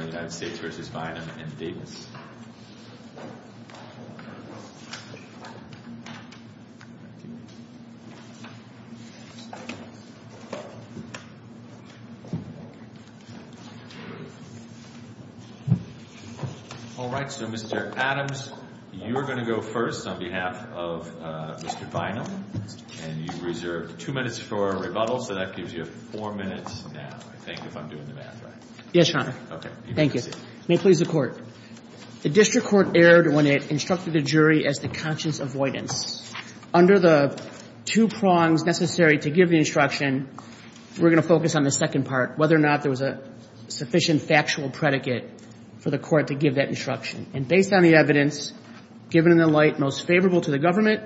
and Davis. All right. So, Mr. Adams, you're going to go first on behalf of Mr. Bynum. And you reserved two minutes for rebuttal, so that gives you four minutes now, I think, if I'm doing the math right. Yes, Your Honor. Okay. Thank you. May it please the Court. The district court erred when it instructed the jury as to conscious avoidance. Under the two prongs necessary to give the instruction, we're going to focus on the second part, whether or not there was a sufficient factual predicate for the court to give that instruction. And based on the evidence, given in the light most favorable to the government,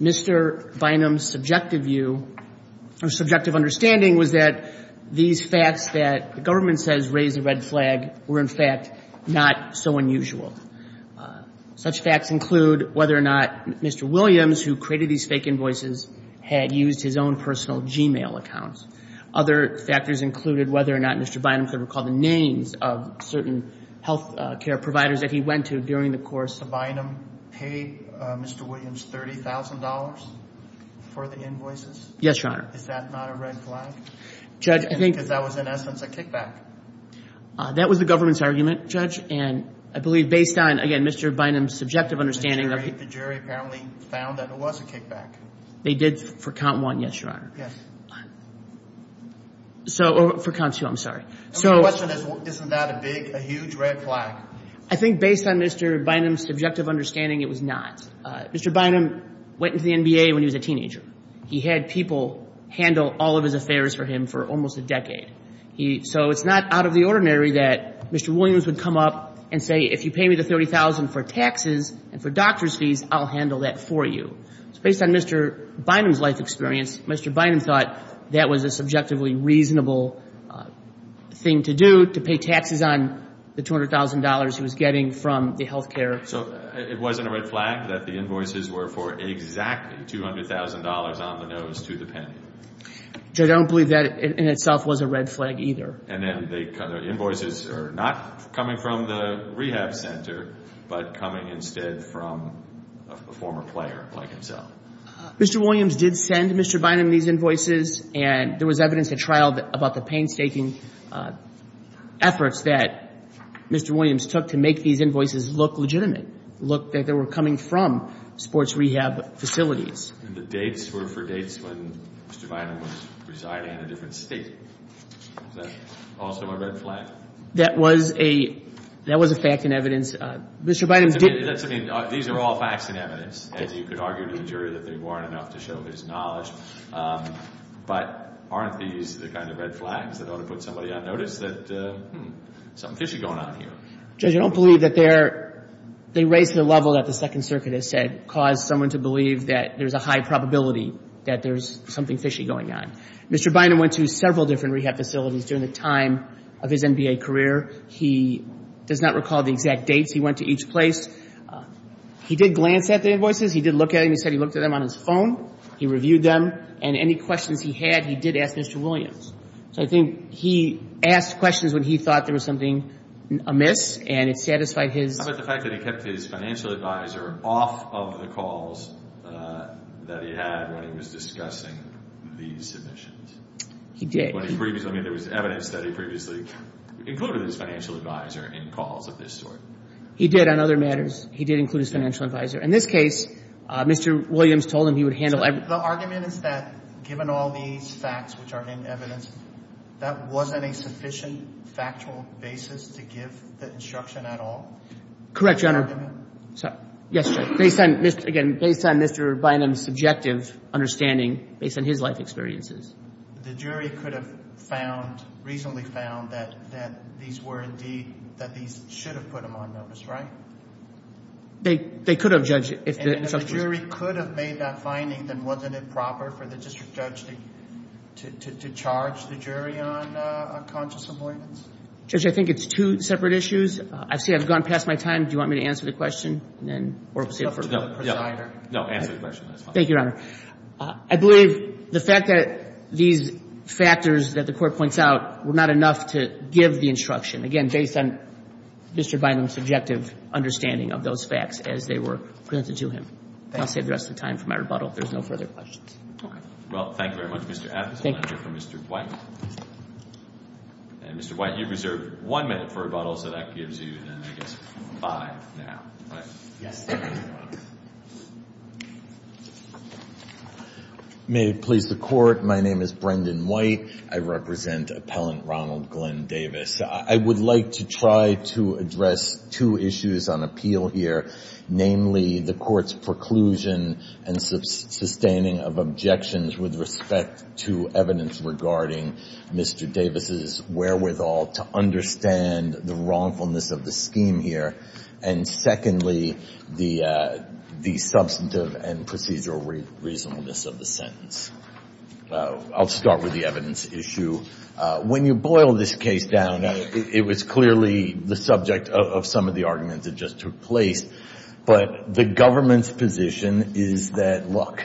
Mr. Bynum's subjective view, or subjective understanding, was that these facts that the government says raise the red flag were, in fact, not so unusual. Such facts include whether or not Mr. Williams, who created these fake invoices, had used his own personal Gmail accounts. Other factors included whether or not Mr. Bynum could recall the names of certain health care providers that he went to during the course. Did Mr. Bynum pay Mr. Williams $30,000 for the invoices? Yes, Your Honor. Is that not a red flag? Judge, I think... Because that was, in essence, a kickback. That was the government's argument, Judge. And I believe based on, again, Mr. Bynum's subjective understanding... The jury apparently found that it was a kickback. They did for count one, yes, Your Honor. Yes. So, for count two, I'm sorry. The question is, isn't that a big, a huge red flag? I think based on Mr. Bynum's subjective understanding, it was not. Mr. Bynum went into the NBA when he was a teenager. He had people handle all of his affairs for him for almost a decade. So it's not out of the ordinary that Mr. Williams would come up and say, if you pay me the $30,000 for taxes and for doctor's fees, I'll handle that for you. Based on Mr. Bynum's life experience, Mr. Bynum thought that was a subjectively reasonable thing to do, to pay taxes on the $200,000 he was getting from the health care. So it wasn't a red flag that the invoices were for exactly $200,000 on the nose to the penny? Judge, I don't believe that in itself was a red flag either. And then the invoices are not coming from the rehab center, but coming instead from a former player like himself? Mr. Williams did send Mr. Bynum these invoices. And there was evidence at trial about the painstaking efforts that Mr. Williams took to make these invoices look legitimate, look like they were coming from sports rehab facilities. And the dates were for dates when Mr. Bynum was residing in a different state. Is that also a red flag? That was a fact and evidence. Mr. Bynum did – I mean, these are all facts and evidence, as you could argue to the jury that they weren't enough to show his knowledge. But aren't these the kind of red flags that ought to put somebody on notice that, hmm, something fishy going on here? Judge, I don't believe that they're – they raise the level that the Second Circuit has said caused someone to believe that there's a high probability that there's something fishy going on. Mr. Bynum went to several different rehab facilities during the time of his NBA career. He does not recall the exact dates he went to each place. He did glance at the invoices. He did look at them. He said he looked at them on his phone. He reviewed them. And any questions he had, he did ask Mr. Williams. So I think he asked questions when he thought there was something amiss, and it satisfied his – How about the fact that he kept his financial advisor off of the calls that he had when he was discussing these submissions? He did. When he previously – I mean, there was evidence that he previously included his financial advisor in calls of this sort. He did on other matters. He did include his financial advisor. In this case, Mr. Williams told him he would handle – So the argument is that given all these facts which are in evidence, that wasn't a sufficient factual basis to give the instruction at all? Correct, Your Honor. Is that the argument? Yes, Your Honor. Based on, again, based on Mr. Bynum's subjective understanding based on his life experiences. The jury could have found – reasonably found that these were indeed – that these should have put him on notice, right? They could have, Judge, if the instruction was – And if the jury could have made that finding, then wasn't it proper for the district judge to charge the jury on conscious avoidance? Judge, I think it's two separate issues. I see I've gone past my time. Do you want me to answer the question? No, answer the question. Thank you, Your Honor. I believe the fact that these factors that the Court points out were not enough to give the instruction, again, based on Mr. Bynum's subjective understanding of those facts as they were presented to him. Thank you. I'll save the rest of the time for my rebuttal if there's no further questions. Okay. Well, thank you very much, Mr. Appleton. Thank you. And Mr. White. And Mr. White, you reserve one minute for rebuttal, so that gives you, I guess, five now, right? Yes, Your Honor. May it please the Court, my name is Brendan White. I represent Appellant Ronald Glenn Davis. I would like to try to address two issues on appeal here, namely the Court's preclusion and sustaining of objections with respect to evidence regarding Mr. Davis' wherewithal to understand the wrongfulness of the scheme here, and secondly, the substantive and procedural reasonableness of the sentence. I'll start with the evidence issue. When you boil this case down, it was clearly the subject of some of the arguments that just took place, but the government's position is that, look,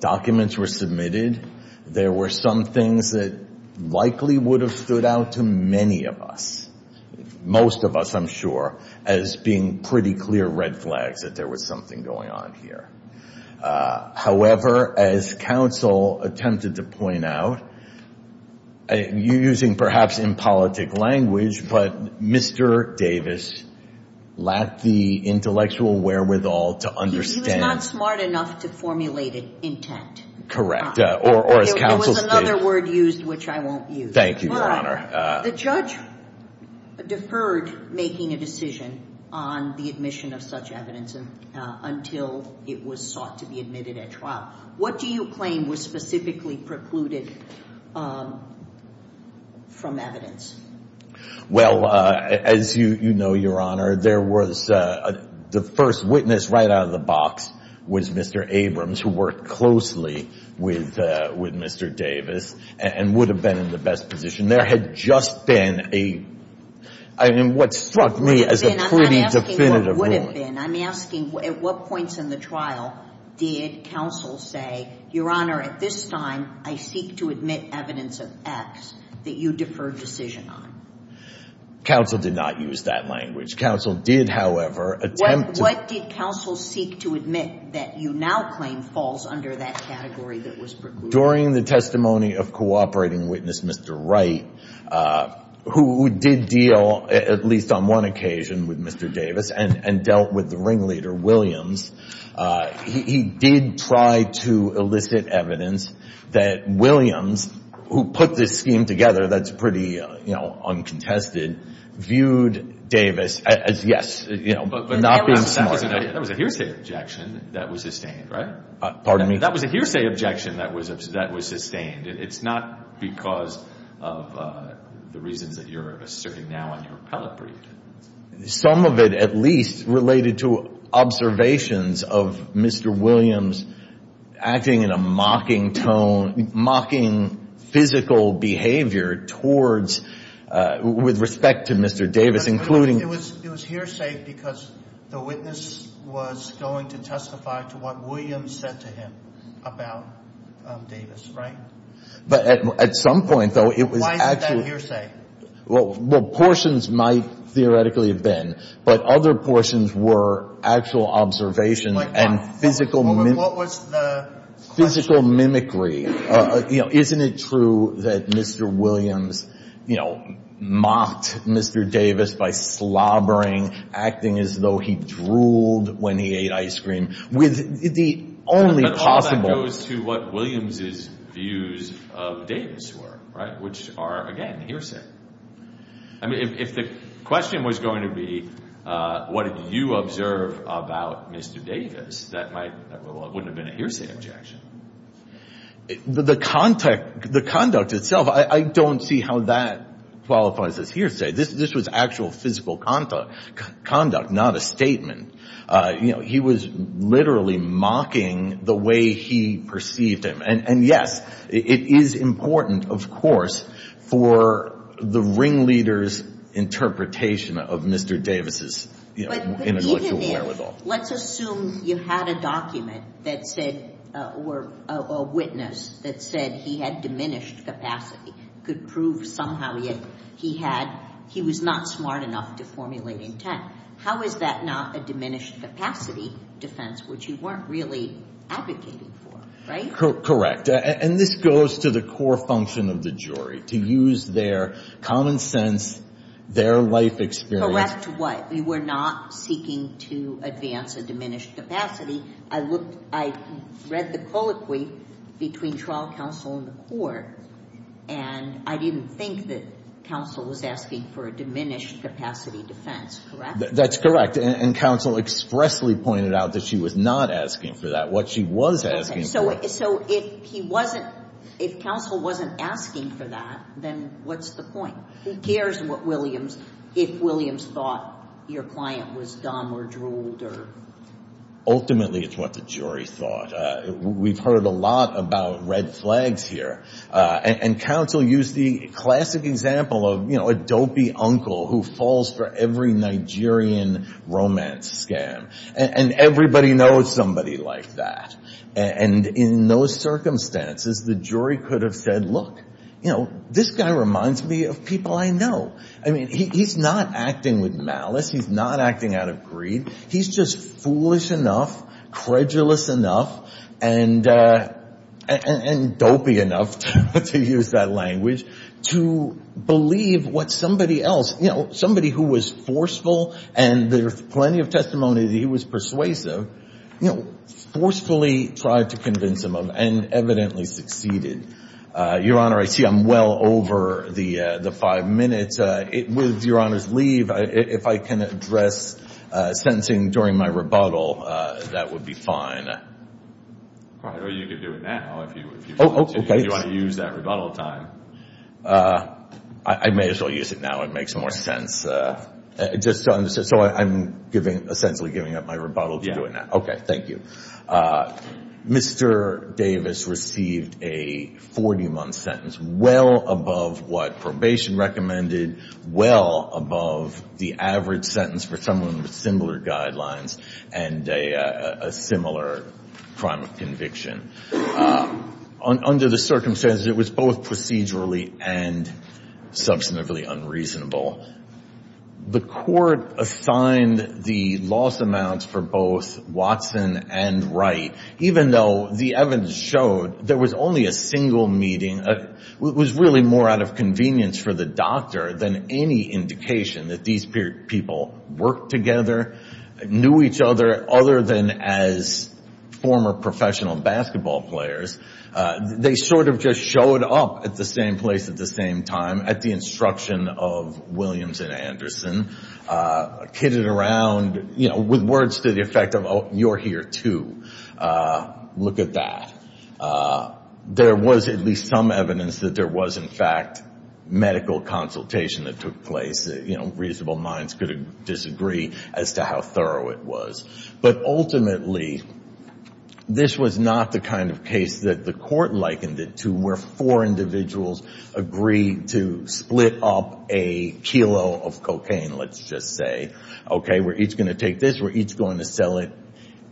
documents were submitted. There were some things that likely would have stood out to many of us, most of us, I'm sure, as being pretty clear red flags that there was something going on here. However, as counsel attempted to point out, using perhaps impolitic language, but Mr. Davis lacked the intellectual wherewithal to understand. He was not smart enough to formulate an intent. Correct, or as counsel stated. There was another word used which I won't use. Thank you, Your Honor. The judge deferred making a decision on the admission of such evidence until it was sought to be admitted at trial. What do you claim was specifically precluded from evidence? Well, as you know, Your Honor, there was the first witness right out of the box was Mr. Abrams, who worked closely with Mr. Davis and would have been in the best position. There had just been a, in what struck me as a pretty definitive ruling. I'm asking what would have been. I'm asking at what points in the trial did counsel say, Your Honor, at this time I seek to admit evidence of X that you deferred decision on? Counsel did not use that language. Counsel did, however, attempt to. What did counsel seek to admit that you now claim falls under that category that was precluded? Well, during the testimony of cooperating witness Mr. Wright, who did deal at least on one occasion with Mr. Davis and dealt with the ringleader Williams, he did try to elicit evidence that Williams, who put this scheme together, that's pretty uncontested, viewed Davis as, yes, not being smart. But that was a hearsay objection that was sustained, right? Pardon me? That was a hearsay objection that was sustained. It's not because of the reasons that you're asserting now in your appellate brief. Some of it at least related to observations of Mr. Williams acting in a mocking tone, mocking physical behavior towards, with respect to Mr. Davis, including. It was hearsay because the witness was going to testify to what Williams said to him about Davis, right? But at some point, though, it was actually. Why is it that hearsay? Well, portions might theoretically have been, but other portions were actual observations and physical. What was the question? Physical mimicry. Isn't it true that Mr. Williams, you know, mocked Mr. Davis by slobbering, acting as though he drooled when he ate ice cream with the only possible. But all that goes to what Williams' views of Davis were, right, which are, again, hearsay. I mean, if the question was going to be what did you observe about Mr. Davis, that might, well, it wouldn't have been a hearsay objection. The conduct itself, I don't see how that qualifies as hearsay. This was actual physical conduct, not a statement. You know, he was literally mocking the way he perceived him. And, yes, it is important, of course, for the ringleader's interpretation of Mr. Davis' intellectual wherewithal. Let's assume you had a document that said or a witness that said he had diminished capacity, could prove somehow yet he was not smart enough to formulate intent. How is that not a diminished capacity defense which you weren't really advocating for, right? Correct. And this goes to the core function of the jury, to use their common sense, their life experience. Correct what? We were not seeking to advance a diminished capacity. I looked, I read the colloquy between trial counsel and the court, and I didn't think that counsel was asking for a diminished capacity defense. Correct? That's correct. And counsel expressly pointed out that she was not asking for that. What she was asking for. So if he wasn't, if counsel wasn't asking for that, then what's the point? Who cares what Williams, if Williams thought your client was dumb or drooled or? Ultimately, it's what the jury thought. We've heard a lot about red flags here. And counsel used the classic example of, you know, a dopey uncle who falls for every Nigerian romance scam. And everybody knows somebody like that. And in those circumstances, the jury could have said, look, you know, this guy reminds me of people I know. I mean, he's not acting with malice. He's not acting out of greed. He's just foolish enough, credulous enough, and dopey enough, to use that language, to believe what somebody else, you know, there's plenty of testimony that he was persuasive, you know, forcefully tried to convince him of, and evidently succeeded. Your Honor, I see I'm well over the five minutes. With Your Honor's leave, if I can address sentencing during my rebuttal, that would be fine. All right. Or you could do it now, if you want to use that rebuttal time. I may as well use it now. It makes more sense. So I'm essentially giving up my rebuttal to do it now. Yeah. Okay, thank you. Mr. Davis received a 40-month sentence, well above what probation recommended, well above the average sentence for someone with similar guidelines and a similar crime of conviction. Under the circumstances, it was both procedurally and substantively unreasonable. The court assigned the loss amounts for both Watson and Wright, even though the evidence showed there was only a single meeting. It was really more out of convenience for the doctor than any indication that these people worked together, knew each other other than as former professional basketball players. They sort of just showed up at the same place at the same time at the instruction of Williams and Anderson, kitted around with words to the effect of, oh, you're here too. Look at that. There was at least some evidence that there was, in fact, medical consultation that took place. Reasonable minds could disagree as to how thorough it was. But ultimately, this was not the kind of case that the court likened it to, where four individuals agreed to split up a kilo of cocaine, let's just say. Okay, we're each going to take this, we're each going to sell it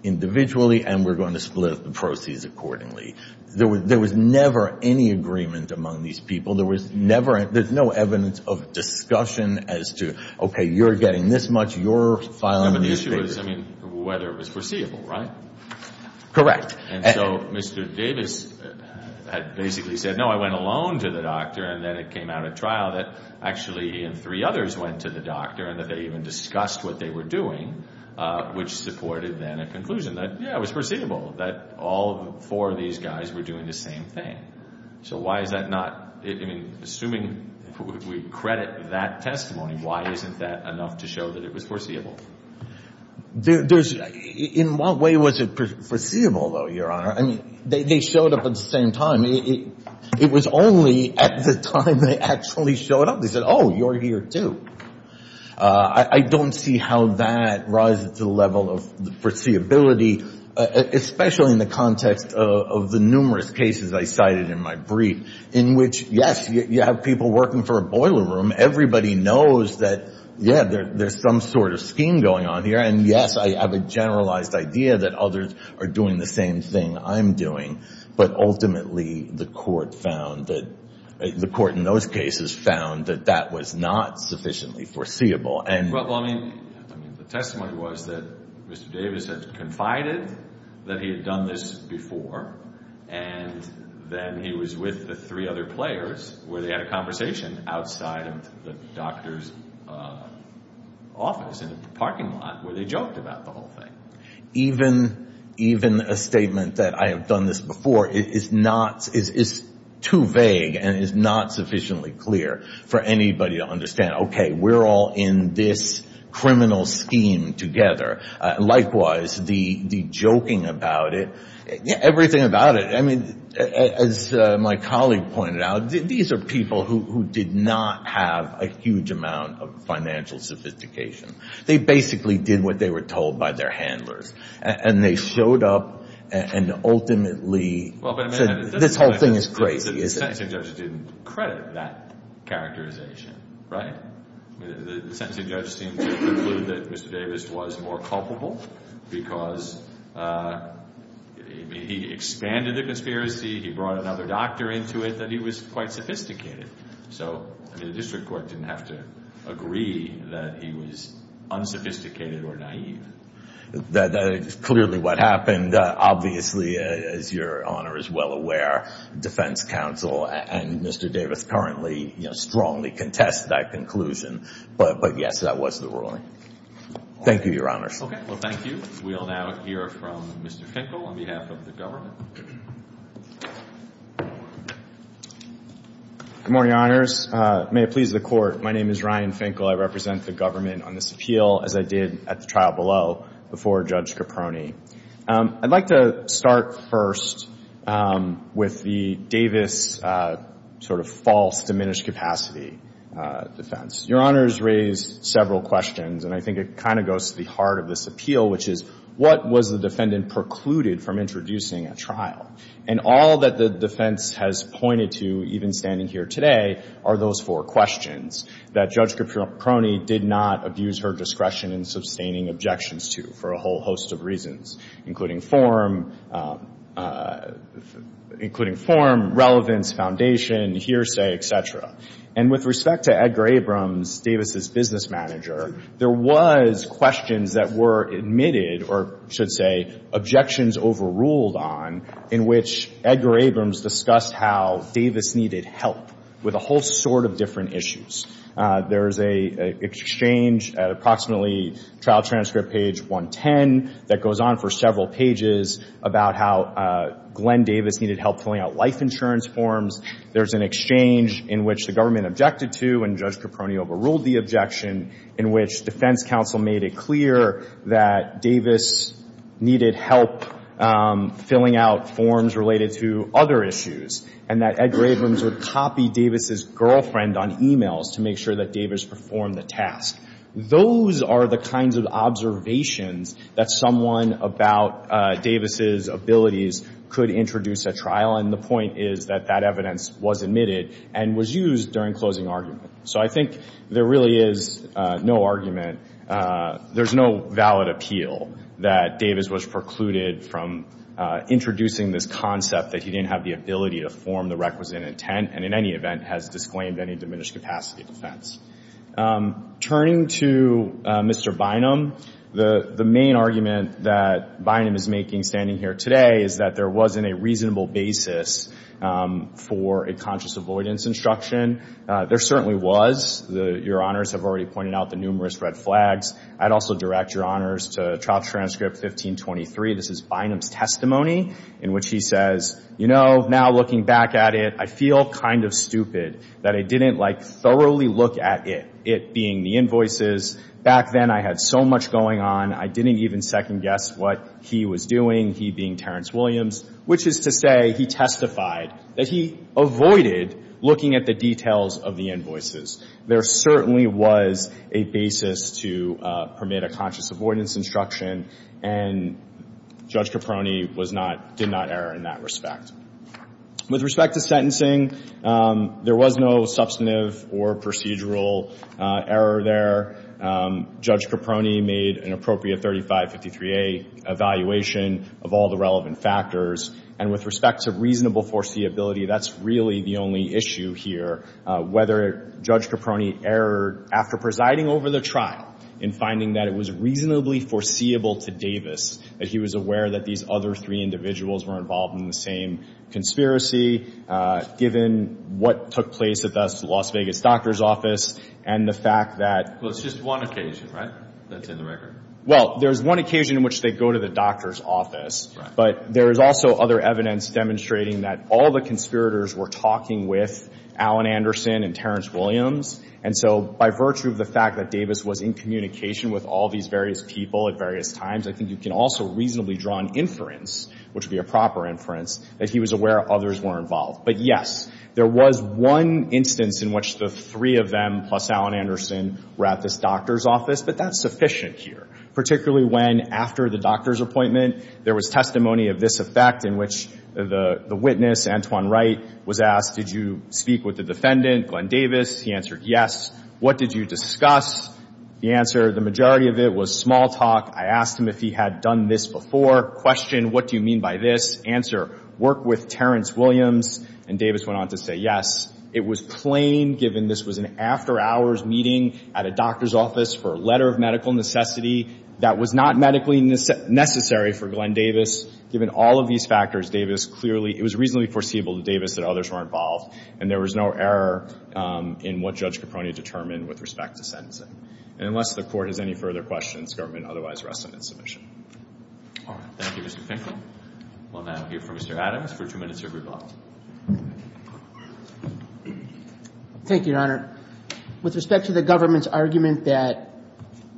individually, and we're going to split up the proceeds accordingly. There was never any agreement among these people. There's no evidence of discussion as to, okay, you're getting this much, you're filing these papers. But the issue is whether it was perceivable, right? Correct. And so Mr. Davis had basically said, no, I went alone to the doctor, and then it came out at trial that actually he and three others went to the doctor and that they even discussed what they were doing, which supported then a conclusion that, yeah, it was perceivable that all four of these guys were doing the same thing. So why is that not, I mean, assuming we credit that testimony, why isn't that enough to show that it was foreseeable? There's, in what way was it foreseeable, though, Your Honor? I mean, they showed up at the same time. It was only at the time they actually showed up, they said, oh, you're here too. I don't see how that rises to the level of the foreseeability, especially in the context of the numerous cases I cited in my brief, in which, yes, you have people working for a boiler room, everybody knows that, yeah, there's some sort of scheme going on here, and, yes, I have a generalized idea that others are doing the same thing I'm doing, but ultimately the court found that, the court in those cases found that that was not sufficiently foreseeable. Well, I mean, the testimony was that Mr. Davis had confided that he had done this before, and then he was with the three other players where they had a conversation outside of the doctor's office in the parking lot where they joked about the whole thing. Even a statement that I have done this before is too vague and is not sufficiently clear for anybody to understand, okay, we're all in this criminal scheme together. Likewise, the joking about it, everything about it, I mean, as my colleague pointed out, these are people who did not have a huge amount of financial sophistication. They basically did what they were told by their handlers, and they showed up and ultimately said, this whole thing is crazy. So the sentencing judge didn't credit that characterization, right? The sentencing judge seemed to conclude that Mr. Davis was more culpable because he expanded the conspiracy, he brought another doctor into it, that he was quite sophisticated. So the district court didn't have to agree that he was unsophisticated or naive. That is clearly what happened. Obviously, as Your Honor is well aware, defense counsel and Mr. Davis currently strongly contest that conclusion. But yes, that was the ruling. Thank you, Your Honors. Okay, well, thank you. We will now hear from Mr. Finkel on behalf of the government. Good morning, Your Honors. May it please the Court, my name is Ryan Finkel. I represent the government on this appeal, as I did at the trial below before Judge Caproni. I'd like to start first with the Davis sort of false diminished capacity defense. Your Honors raised several questions, and I think it kind of goes to the heart of this appeal, which is what was the defendant precluded from introducing at trial? And all that the defense has pointed to, even standing here today, are those four questions that Judge Caproni did not abuse her discretion in sustaining objections to for a whole host of reasons, including form, relevance, foundation, hearsay, et cetera. And with respect to Edgar Abrams, Davis's business manager, there was questions that were admitted, or should say, objections overruled on in which Edgar Abrams discussed how Davis needed help with a whole sort of different issues. There's an exchange at approximately trial transcript page 110 that goes on for several pages about how Glenn Davis needed help filling out life insurance forms. There's an exchange in which the government objected to and Judge Caproni overruled the objection, in which defense counsel made it clear that Davis needed help filling out forms related to other issues. And that Edgar Abrams would copy Davis's girlfriend on e-mails to make sure that Davis performed the task. Those are the kinds of observations that someone about Davis's abilities could introduce at trial, and the point is that that evidence was admitted and was used during closing argument. So I think there really is no argument. There's no valid appeal that Davis was precluded from introducing this concept that he didn't have the ability to form the requisite intent, and in any event has disclaimed any diminished capacity defense. Turning to Mr. Bynum, the main argument that Bynum is making standing here today is that there wasn't a reasonable basis for a conscious avoidance instruction. There certainly was. Your Honors have already pointed out the numerous red flags. I'd also direct Your Honors to trial transcript 1523. This is Bynum's testimony in which he says, you know, now looking back at it, I feel kind of stupid that I didn't, like, thoroughly look at it, it being the invoices. Back then I had so much going on, I didn't even second guess what he was doing, he being Terrence Williams, which is to say he testified that he avoided looking at the details of the invoices. There certainly was a basis to permit a conscious avoidance instruction, and Judge Caproni was not, did not err in that respect. With respect to sentencing, there was no substantive or procedural error there. Judge Caproni made an appropriate 3553A evaluation of all the relevant factors, and with respect to reasonable foreseeability, that's really the only issue here. Whether Judge Caproni erred after presiding over the trial in finding that it was reasonably foreseeable to Davis that he was aware that these other three individuals were involved in the same conspiracy, given what took place at the Las Vegas doctor's office, and the fact that... Well, it's just one occasion, right, that's in the record? Well, there's one occasion in which they go to the doctor's office, but there is also other evidence demonstrating that all the conspirators were talking with Alan Anderson and Terrence Williams, and so by virtue of the fact that Davis was in communication with all these various people at various times, I think you can also reasonably draw an inference, which would be a proper inference, that he was aware others were involved. But yes, there was one instance in which the three of them, plus Alan Anderson, were at this doctor's office, but that's sufficient here, particularly when, after the doctor's appointment, there was testimony of this effect in which the witness, Antoine Wright, was asked, did you speak with the defendant, Glenn Davis? He answered, yes. What did you discuss? The answer, the majority of it was small talk. I asked him if he had done this before. Question, what do you mean by this? Answer, work with Terrence Williams. And Davis went on to say, yes. It was plain, given this was an after-hours meeting at a doctor's office for a letter of medical necessity that was not medically necessary for Glenn Davis, given all of these factors, Davis clearly... was involved, and there was no error in what Judge Caproni determined with respect to sentencing. And unless the Court has any further questions, government otherwise rests on its submission. All right. Thank you, Mr. Finkel. We'll now hear from Mr. Adams for two minutes of rebuttal. Thank you, Your Honor. With respect to the government's argument that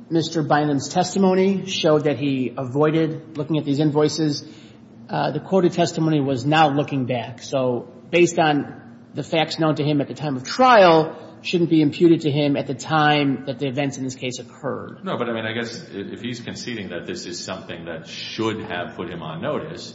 Mr. Bynum's testimony showed that he avoided looking at these invoices, the court of testimony was now looking back. So based on the facts known to him at the time of trial, shouldn't be imputed to him at the time that the events in this case occurred. No, but, I mean, I guess if he's conceding that this is something that should have put him on notice,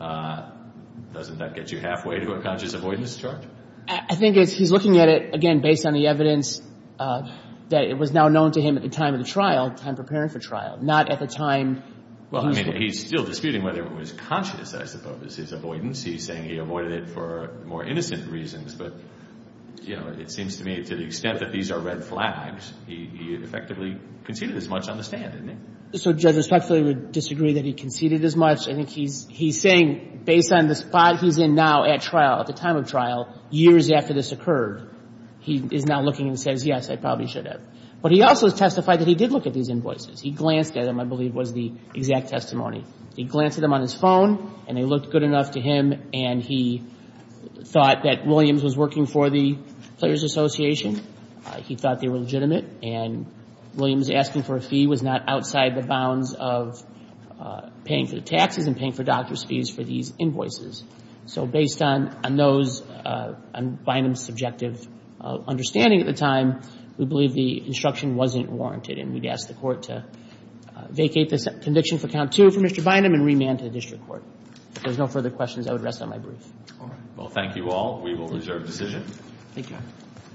doesn't that get you halfway to a conscious avoidance charge? I think he's looking at it, again, based on the evidence that it was now known to him at the time of the trial, time preparing for trial, not at the time... Well, I mean, he's still disputing whether it was conscious, I suppose, his avoidance. I don't think he did it for more innocent reasons, but, you know, it seems to me, to the extent that these are red flags, he effectively conceded as much on the stand, didn't he? So Judge Respectfully would disagree that he conceded as much. I think he's saying, based on the spot he's in now at trial, at the time of trial, years after this occurred, he is now looking and says, yes, I probably should have. But he also has testified that he did look at these invoices. He glanced at them, I believe, was the exact testimony. He glanced at them on his phone, and they looked good enough to him, and he thought that Williams was working for the Players Association. He thought they were legitimate, and Williams asking for a fee was not outside the bounds of paying for the taxes and paying for doctor's fees for these invoices. So based on those, on Bynum's subjective understanding at the time, we believe the instruction wasn't warranted, and we'd ask the Court to vacate this conviction for count two from Mr. Bynum and remand to the district court. If there's no further questions, I would rest on my brief. All right. Well, thank you all. We will reserve decision. Thank you.